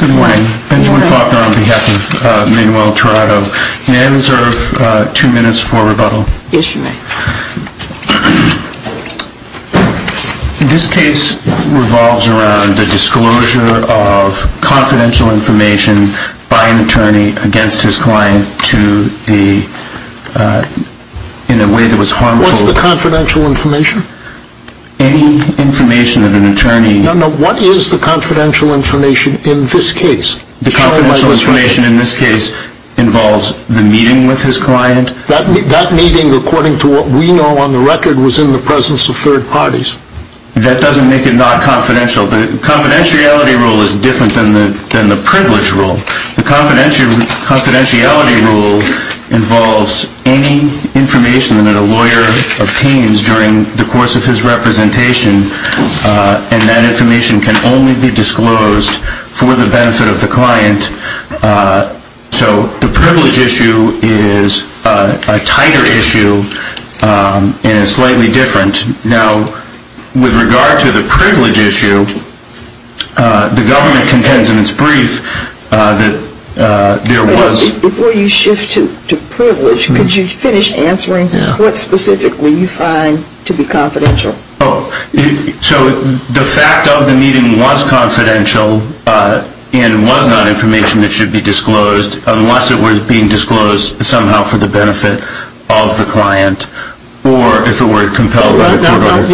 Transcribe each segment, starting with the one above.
Good morning. Benjamin Faulkner on behalf of Manuel Tirado. May I reserve two minutes for rebuttal? Yes, you may. This case revolves around the disclosure of confidential information by an attorney against his client to the, in a way that was harmful. What's the confidential information? Any information that an attorney. No, no, what is the confidential information in this case? The confidential information in this case involves the meeting with his client. That meeting, according to what we know on the record, was in the presence of third parties. That doesn't make it non-confidential. The confidentiality rule is different than the privilege rule. The confidentiality rule involves any information that a lawyer obtains during the course of his representation, and that information can only be disclosed for the benefit of the client. So the privilege issue is a tighter issue and is slightly different. Now, with regard to the privilege issue, the government contends in its brief that there was. Before you shift to privilege, could you finish answering what specifically you find to be confidential? Oh, so the fact of the meeting was confidential and was not information that should be disclosed unless it were being disclosed somehow for the benefit of the client, or if it were compelled by the court order.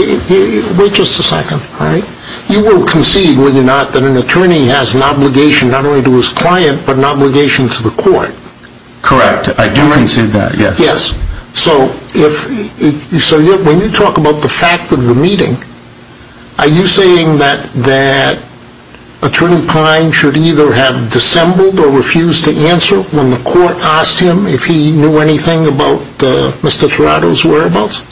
Wait just a second, all right? You will concede, will you not, that an attorney has an obligation not only to his client but an obligation to the court? Correct, I do concede that, yes. Yes, so when you talk about the fact of the meeting, are you saying that Attorney Klein should either have dissembled or refused to answer when the court asked him if he knew anything about Mr. Tirado's whereabouts?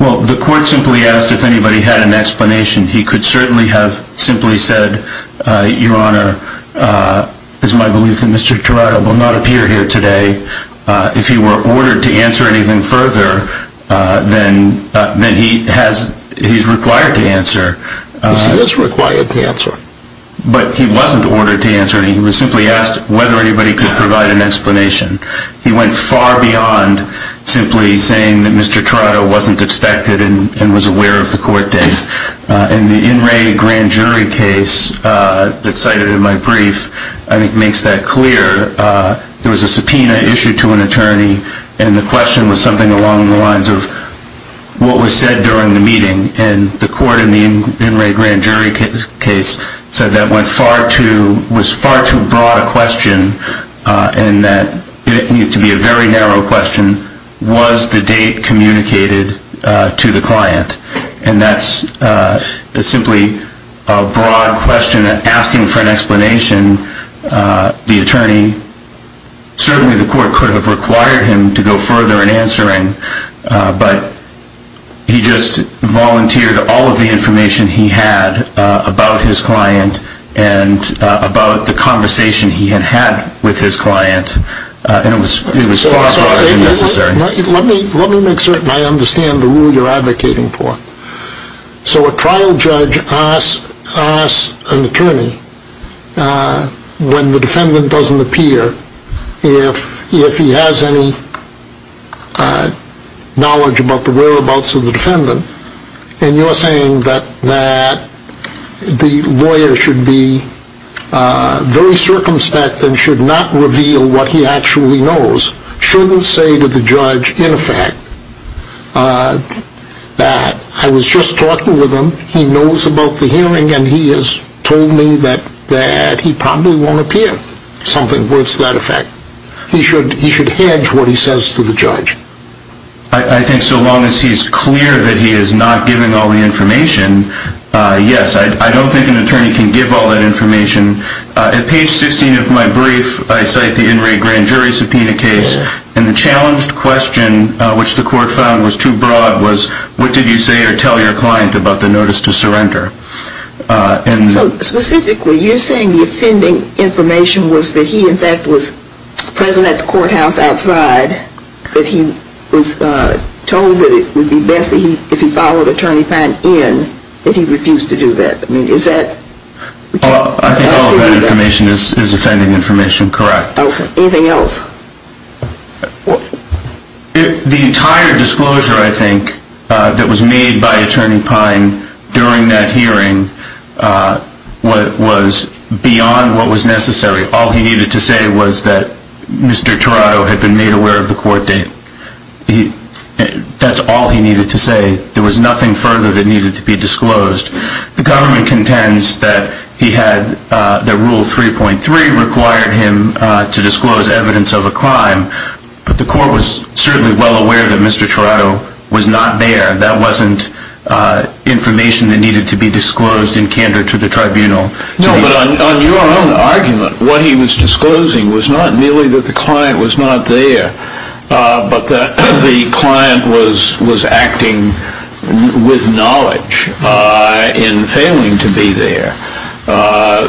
Well, the court simply asked if anybody had an explanation. He could certainly have simply said, Your Honor, it is my belief that Mr. Tirado will not appear here today. If he were ordered to answer anything further, then he is required to answer. Yes, he is required to answer. But he wasn't ordered to answer, he was simply asked whether anybody could provide an explanation. He went far beyond simply saying that Mr. Tirado wasn't expected and was aware of the court date. In the In Re Grand Jury case that's cited in my brief, I think it makes that clear. There was a subpoena issued to an attorney and the question was something along the lines of what was said during the meeting. And the court in the In Re Grand Jury case said that went far too, was far too broad a question and that it needs to be a very narrow question. Was the date communicated to the client? And that's simply a broad question asking for an explanation. The attorney, certainly the court could have required him to go further in answering, but he just volunteered all of the information he had about his client and about the conversation he had had with his client and it was far broader than necessary. Let me make certain I understand the rule you're advocating for. So a trial judge asks an attorney when the defendant doesn't appear if he has any knowledge about the whereabouts of the defendant and you're saying that the lawyer should be very circumspect and should not reveal what he actually knows. Shouldn't say to the judge, in effect, that I was just talking with him, he knows about the hearing and he has told me that he probably won't appear. Something to that effect. He should hedge what he says to the judge. I think so long as he's clear that he is not giving all the information, yes. I don't think an attorney can give all that information. At page 16 of my brief, I cite the In Re Grand Jury subpoena case and the challenged question, which the court found was too broad, was what did you say or tell your client about the notice to the judge? So specifically you're saying the offending information was that he, in fact, was present at the courthouse outside, that he was told that it would be best if he followed Attorney Pine in, that he refused to do that. I think all of that information is offending information, correct. Anything else? The entire disclosure, I think, that was made by Attorney Pine in that hearing was beyond what was necessary. All he needed to say was that Mr. Tirado had been made aware of the court date. That's all he needed to say. There was nothing further that needed to be disclosed. The government contends that he had, that Rule 3.3 required him to disclose evidence of a crime, but the court was certainly well aware that Mr. Tirado was not there. That wasn't information that needed to be disclosed in candor to the tribunal. No, but on your own argument, what he was disclosing was not merely that the client was not there, but that the client was acting with knowledge in failing to be there.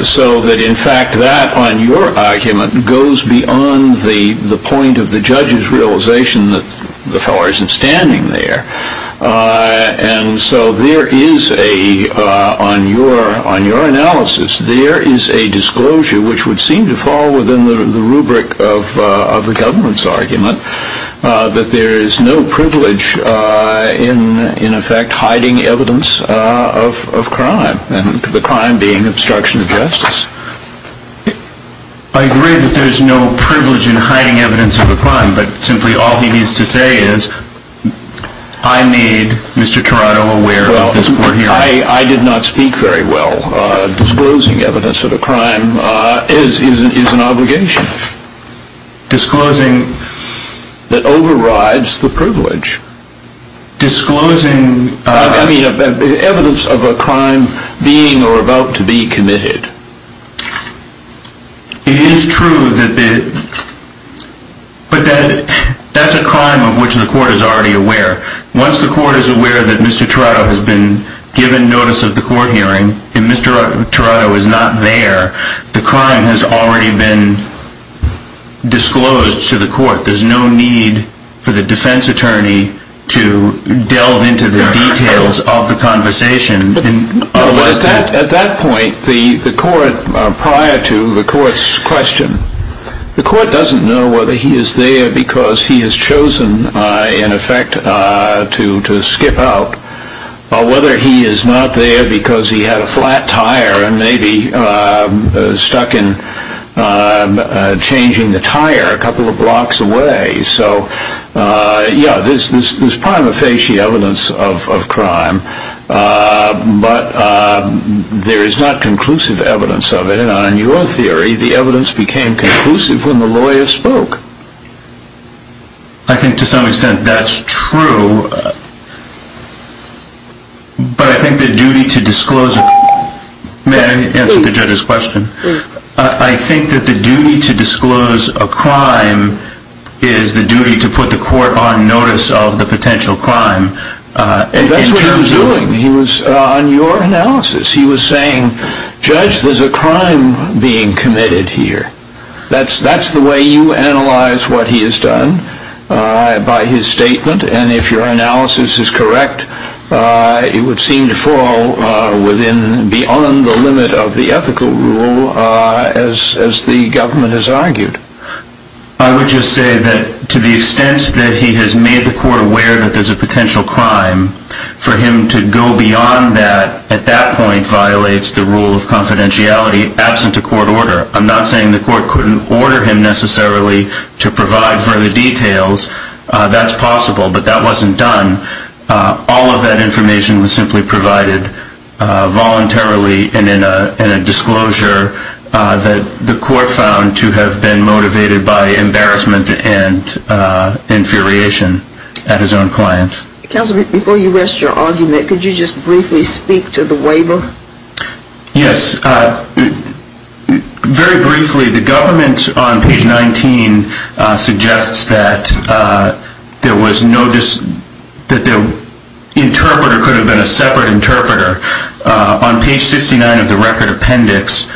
So that, in fact, that on your argument goes beyond the point of the judge's realization that the fellow isn't standing there. And so there is a, on your analysis, there is a disclosure which would seem to fall within the rubric of the government's argument that there is no privilege in, in effect, hiding evidence of crime, and the crime being obstruction of justice. I agree that there's no privilege in hiding evidence of a crime, but simply all he needs to say is, I need Mr. Tirado aware of this court hearing. Well, I, I did not speak very well. Disclosing evidence of a crime is, is an obligation. Disclosing. That overrides the privilege. Disclosing. I mean, evidence of a crime being or about to be committed. It is true that the, but that, that's a crime of which the court is already aware. Once the court is aware that Mr. Tirado has been given notice of the court hearing, and Mr. Tirado is not there, the crime has already been disclosed to the court. There's no need for the defense attorney to delve into the details of the conversation. At that point, the, the court prior to the court's question, the court doesn't know whether he is there because he has chosen, in effect, to, to skip out, or whether he is not there because he had a flat tire and maybe stuck in changing the tire a couple of blocks away. So, yeah, there's, there's prima facie evidence of, of crime. But there is not conclusive evidence of it. And in your theory, the evidence became conclusive when the lawyer spoke. I think to some extent that's true. But I think the duty to disclose, may I answer the judge's question? I think that the duty to disclose the evidence of a crime in terms of... That's what he was doing. He was, on your analysis, he was saying, Judge, there's a crime being committed here. That's, that's the way you analyze what he has done by his statement. And if your analysis is correct, it would seem to fall within, beyond the limit of the ethical rule as, as the government has argued. I would just say that to the extent that he has made the court aware that there's a potential crime, for him to go beyond that, at that point, violates the rule of confidentiality absent a court order. I'm not saying the court couldn't order him necessarily to provide further details. That's possible, but that wasn't done. All of that information was simply provided voluntarily and in a, in a disclosure that the court found to have been motivated by embarrassment and infuriation at his own client. Counselor, before you rest your argument, could you just briefly speak to the waiver? Yes. Very briefly, the government on page 19 suggests that there was no, that the interpreter could have been a separate interpreter. On page 69 of the record appendix,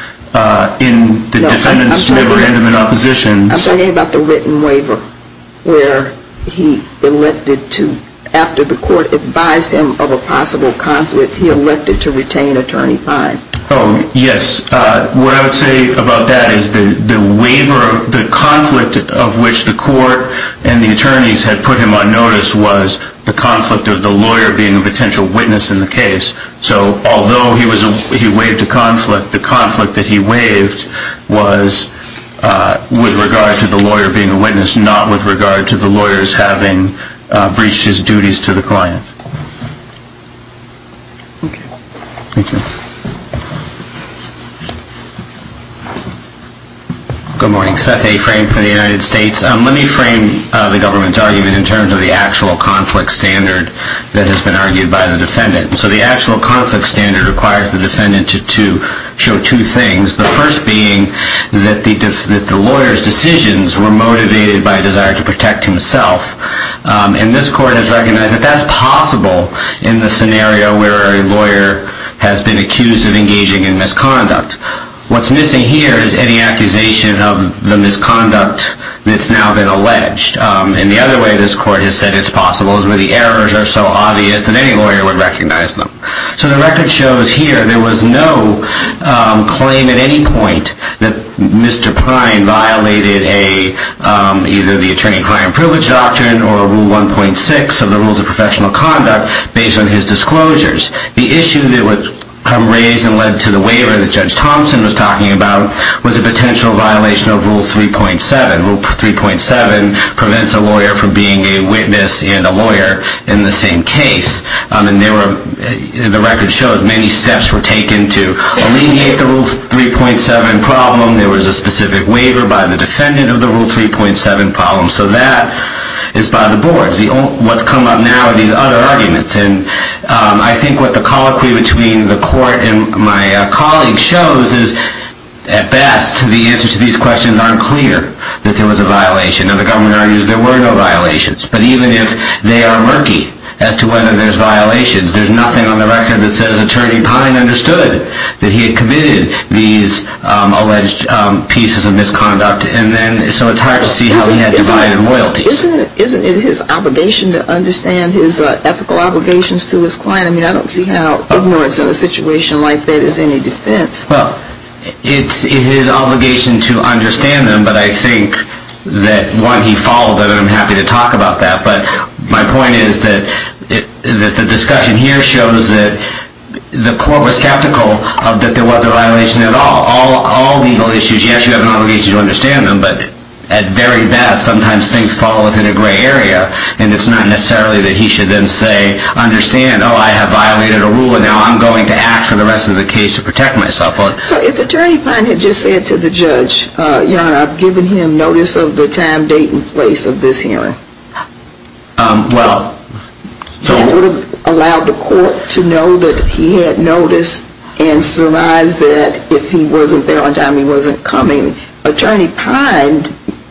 in the defendant's never-ending opposition. I'm talking about the written waiver where he elected to, after the court advised him of a possible conflict, he elected to retain attorney fine. Oh, yes. What I would say about that is the, the waiver, the conflict of which the court and the attorneys had put him on notice was the conflict of the lawyer being a potential witness in the case. So although he was a, he waived a conflict, the conflict that he waived was with regard to the lawyer being a witness, not with regard to the lawyers having breached his duties to the client. Okay. Thank you. Good morning. Seth A. Frame from the United States. Let me frame the government's argument in terms of the actual conflict standard that has been argued by the defendant. And so the actual conflict standard requires the defendant to, to show two things. The first being that the, that the lawyer's decisions were motivated by a desire to protect himself. And this court has recognized that that's possible in the scenario where a lawyer has been accused of engaging in misconduct. What's missing here is any accusation of the misconduct that's now been alleged. And the other way this court has said it's possible is where the errors are so obvious that any lawyer would recognize them. So the record shows here, there was no claim at any point that Mr. Prime violated a, either the attorney-client privilege doctrine or rule 1.6 of the rules of professional conduct based on his disclosures. The issue that would come raised and led to the waiver that Judge Thompson was talking about was a potential violation of rule 3.7. Rule 3.7 prevents a lawyer from being a witness and a lawyer in the same case. And they were, the record shows many steps were taken to alleviate the rule 3.7 problem. There was a specific waiver by the defendant of the rule 3.7 problem. So that is by the boards. The, what's come up now are these other arguments. And I think what the colloquy between the court and my colleague shows is at best the answers to these questions aren't clear that there was a violation. And the government argues there were no violations. But even if they are murky as to whether there's violations, there's nothing on the record that says Attorney Pine understood that he had committed these alleged pieces of misconduct. And then, so it's hard to see how he had divided loyalties. Isn't it his obligation to understand his ethical obligations to his defense? Well, it's his obligation to understand them. But I think that one, he followed that. And I'm happy to talk about that. But my point is that the discussion here shows that the court was skeptical of that there was a violation at all. All legal issues, you actually have an obligation to understand them. But at very best, sometimes things fall within a gray area. And it's not necessarily that he should then say, understand, oh, I have violated a rule, and now I'm going to act for the rest of the case to protect myself. So if Attorney Pine had just said to the judge, Your Honor, I've given him notice of the time, date, and place of this hearing, that would have allowed the court to know that he had noticed and surmised that if he wasn't there on time, he wasn't coming. Attorney Pine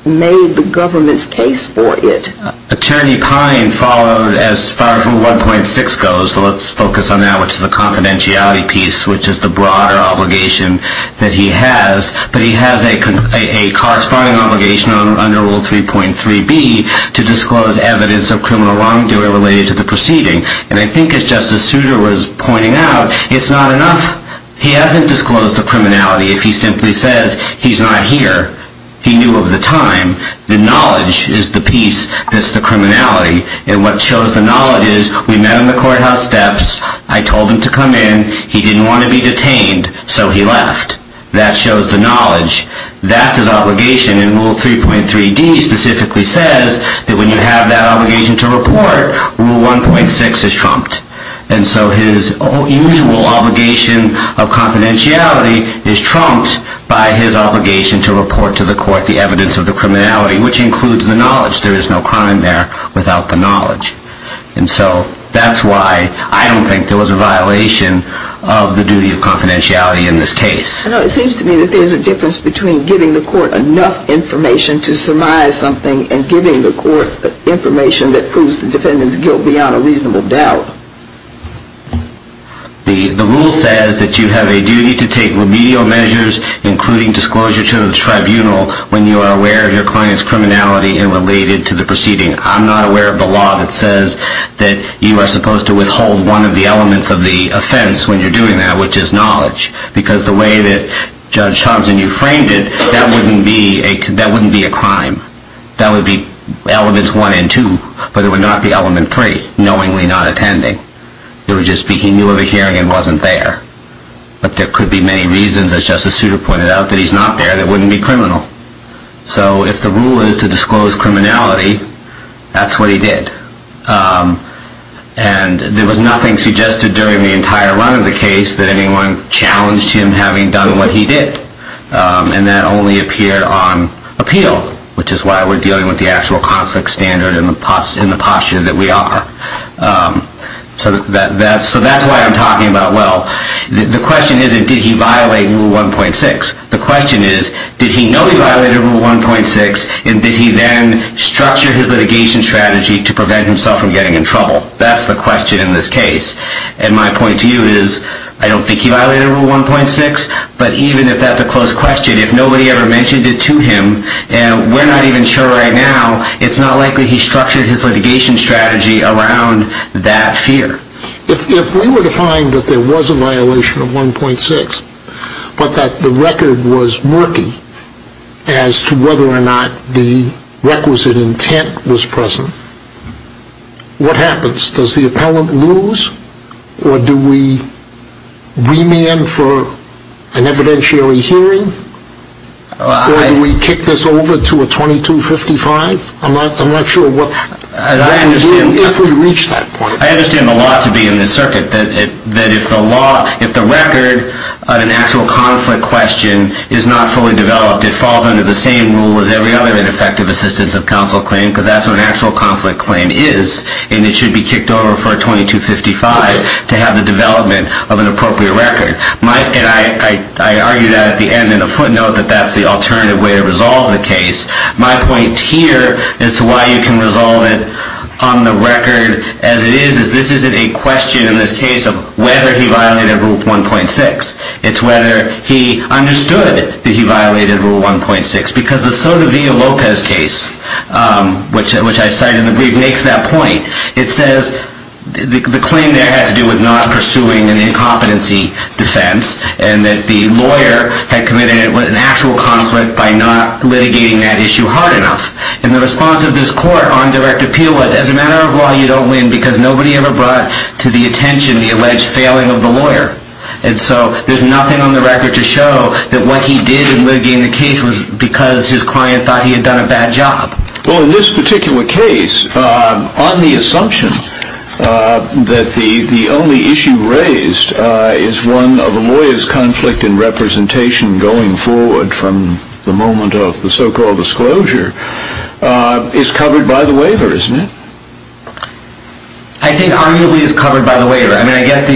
made the government's case for it. Attorney Pine followed as far as Rule 1.6 goes. So let's focus on that, which is the confidentiality piece, which is the broader obligation that he has. But he has a corresponding obligation under Rule 3.3b to disclose evidence of criminal wrongdoing related to the proceeding. And I think as Justice Souter was pointing out, it's not enough he hasn't disclosed the criminality if he simply says he's not here. He knew of the time. The knowledge is the piece that's the criminality. And what shows the knowledge is we met on the courthouse steps. I told him to come in. He didn't want to be detained, so he left. That shows the knowledge. That's his obligation. And Rule 3.3d specifically says that when you have that obligation to report, Rule 1.6 is trumped. And so his usual obligation of confidentiality is trumped by his obligation to report to the court the evidence of the criminality, which includes the knowledge there is no crime there without the knowledge. And so that's why I don't think there was a violation of the duty of confidentiality in this case. I know it seems to me that there's a difference between giving the court enough information to surmise something and giving the court information that proves the defendant's guilt beyond a reasonable doubt. The rule says that you have a duty to take remedial measures, including disclosure to the tribunal when you are aware of your client's criminality and related to the proceeding. I'm not aware of the law that says that you are supposed to withhold one of the elements of the offense when you're doing that, which is knowledge. Because the way that Judge Thompson, you framed it, that wouldn't be a crime. That would be Elements 1 and 2. But it would not be Element 3, knowingly not attending. It would just be he knew of a hearing and wasn't there. But there could be many reasons, as Justice Souter pointed out, that he's not there that wouldn't be criminal. So if the rule is to disclose criminality, that's what he did. And there was nothing suggested during the entire run of the case that anyone challenged him having done what he did. And that only appeared on appeal, which is why we're dealing with the actual conflict standard in the posture that we are. So that's why I'm talking about, well, the question isn't, did he violate Rule 1.6? The question is, did he know he violated Rule 1.6, and did he then structure his litigation strategy to prevent himself from getting in trouble? That's the question in this case. And my point to you is, I don't think he violated Rule 1.6. But even if that's a close question, if nobody ever mentioned it to him, and we're not even sure right now, it's not likely he structured his litigation strategy around that fear. If we were to find that there was a violation of 1.6, but that the record was murky as to whether or not the requisite intent was present, what happens? Does the appellant lose, or do we remand for an evidentiary hearing? Or do we kick this over to a 2255? I'm not sure what the rule is if we reach that point. I understand the law to be in this circuit, that if the record of an actual conflict question is not fully developed, it falls under the same rule as every other ineffective assistance of counsel claim, because that's what an actual conflict claim is. And it should be kicked over for a 2255 to have the development of an appropriate record. And I argued at the end in a footnote that that's the alternative way to resolve the case. My point here as to why you can resolve it on the record as it is, is this isn't a question in this case of whether he violated Rule 1.6. It's whether he understood that he violated Rule 1.6. Because the Sotomayor-Lopez case, which I cited in the brief, makes that point. It says the claim there had to do with not pursuing an incompetency defense, and that the lawyer had committed an actual conflict by not litigating that issue hard enough. And the response of this court on direct appeal was, as a matter of law, you don't win because nobody ever brought to the attention the alleged failing of the lawyer. And so there's nothing on the record to show that what he did in litigating the case was because his client thought he had done a bad job. Well, in this particular case, on the assumption that the only issue raised is one of a lawyer's conflict in representation going forward from the moment of the so-called disclosure, is covered by the waiver, isn't it? I think arguably it's covered by the waiver. I mean, I guess,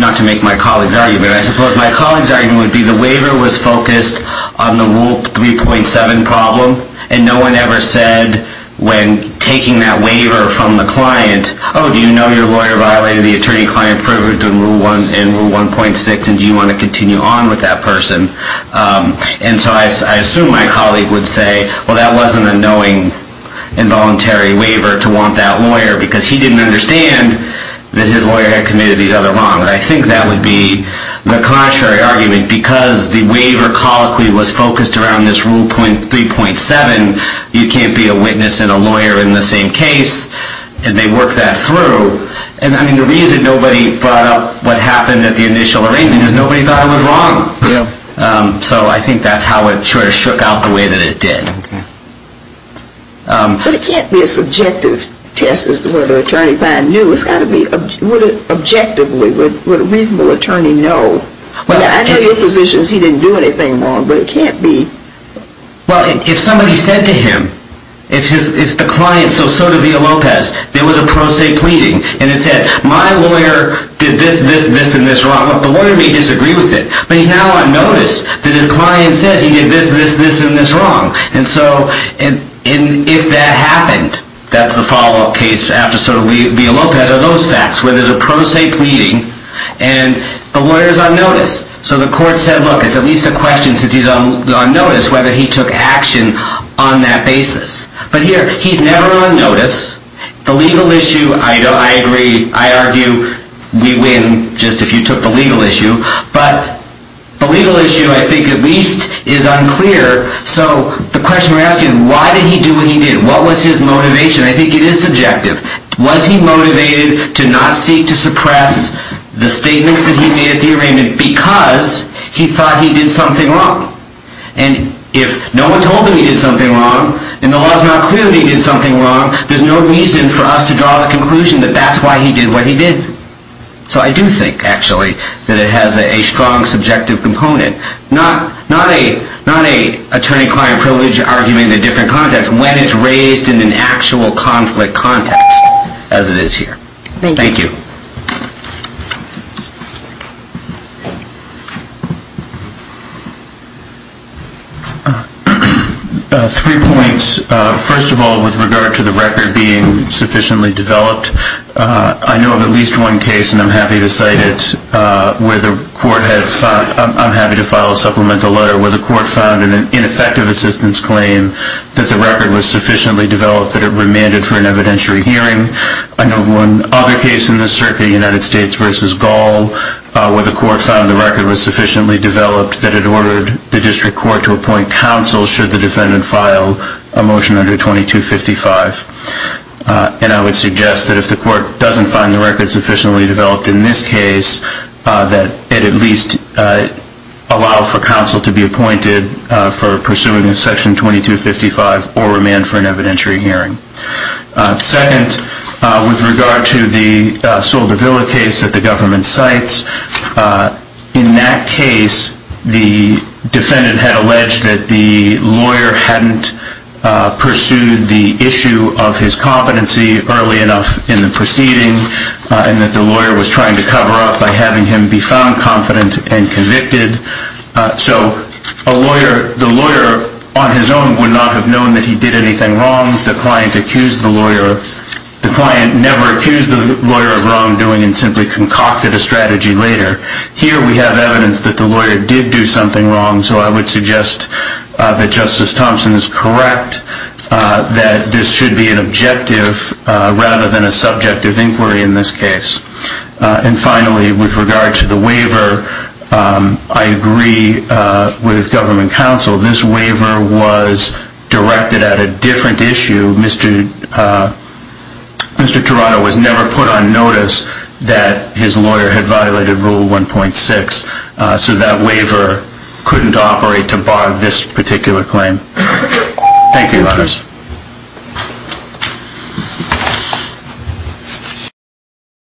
not to make my colleague's argument, I suppose my colleague's argument would be the waiver was focused on the Rule 3.7 problem, and no one ever said when taking that waiver from the client, oh, do you know your lawyer violated the attorney-client privilege in Rule 1.6, and do you want to continue on with that person? And so I assume my colleague would say, well, that wasn't a knowing involuntary waiver to want that lawyer, because he didn't understand that his lawyer had committed the other wrong. And I think that would be the contrary argument, because the waiver colloquy was focused around this Rule 3.7, you can't be a witness and a lawyer in the same case, and they worked that through. And I mean, the reason nobody brought up what happened at the initial arraignment is nobody thought it was wrong. So I think that's how it sort of shook out the way that it did. But it can't be a subjective test as to whether an attorney knew. It's got to be, would it objectively, would a reasonable attorney know? I know your position is he didn't do anything wrong, but it can't be. Well, if somebody said to him, if the client, so Sotovia Lopez, there was a pro se pleading, and it said, my lawyer did this, this, this, and this wrong, the lawyer may disagree with it, but he's now on notice that his client says he did this, this, this, and this wrong. And so if that happened, that's the follow-up case after Sotovia Lopez are those facts, where there's a pro se pleading, and the lawyer's on notice. So the court said, look, it's at least a question, since he's on notice, whether he took action on that basis. But here, he's never on notice. The legal issue, I agree, I argue, we win just if you took the legal issue. But the legal issue, I think, at least is unclear. So the question we're asking, why did he do what he did? What was his motivation? I think it is subjective. Was he motivated to not seek to suppress the statements that he made at the arraignment because he thought he did something wrong? And if no one told him he did something wrong, and the law's not clear that he did something wrong, there's no reason for us to draw the conclusion that that's why he did what he did. So I do think, actually, that it has a strong subjective component, not a attorney-client privilege argument in a different context, when it's raised in an actual conflict context, as it is here. Thank you. Three points. First of all, with regard to the record being sufficiently developed, I know of at least one case, and I'm happy to cite it, where the court had found, I'm happy to file a supplemental letter, where the court found in an ineffective assistance claim that the record was sufficiently developed that it remanded for an evidentiary hearing. I know of one other case in this circuit, United States v. Gall, where the court found the record was sufficiently developed that it ordered the district court to appoint counsel should the defendant file a motion under 2255. And I would suggest that if the court doesn't find the record sufficiently developed in this case, that it at least allow for counsel to be appointed for pursuing in section 2255 or remand for an evidentiary hearing. Second, with regard to the Soldevilla case that the government cites, in that case, the defendant had alleged that the lawyer hadn't pursued the issue of his competency early enough in the proceeding, and that the lawyer was trying to cover up by having him be found confident and convicted. So the lawyer, on his own, would not have known that he did anything wrong. The client accused the lawyer. The client never accused the lawyer of wrongdoing and simply concocted a strategy later. Here we have evidence that the lawyer did do something wrong, so I would suggest that Justice Thompson is correct that this should be an objective rather than a subjective inquiry in this case. And finally, with regard to the waiver, I agree with government counsel. This waiver was directed at a different issue. Mr. Tirado was never put on notice that his lawyer had violated Rule 1.6, so that waiver couldn't operate to bar this particular claim. Thank you, ladies.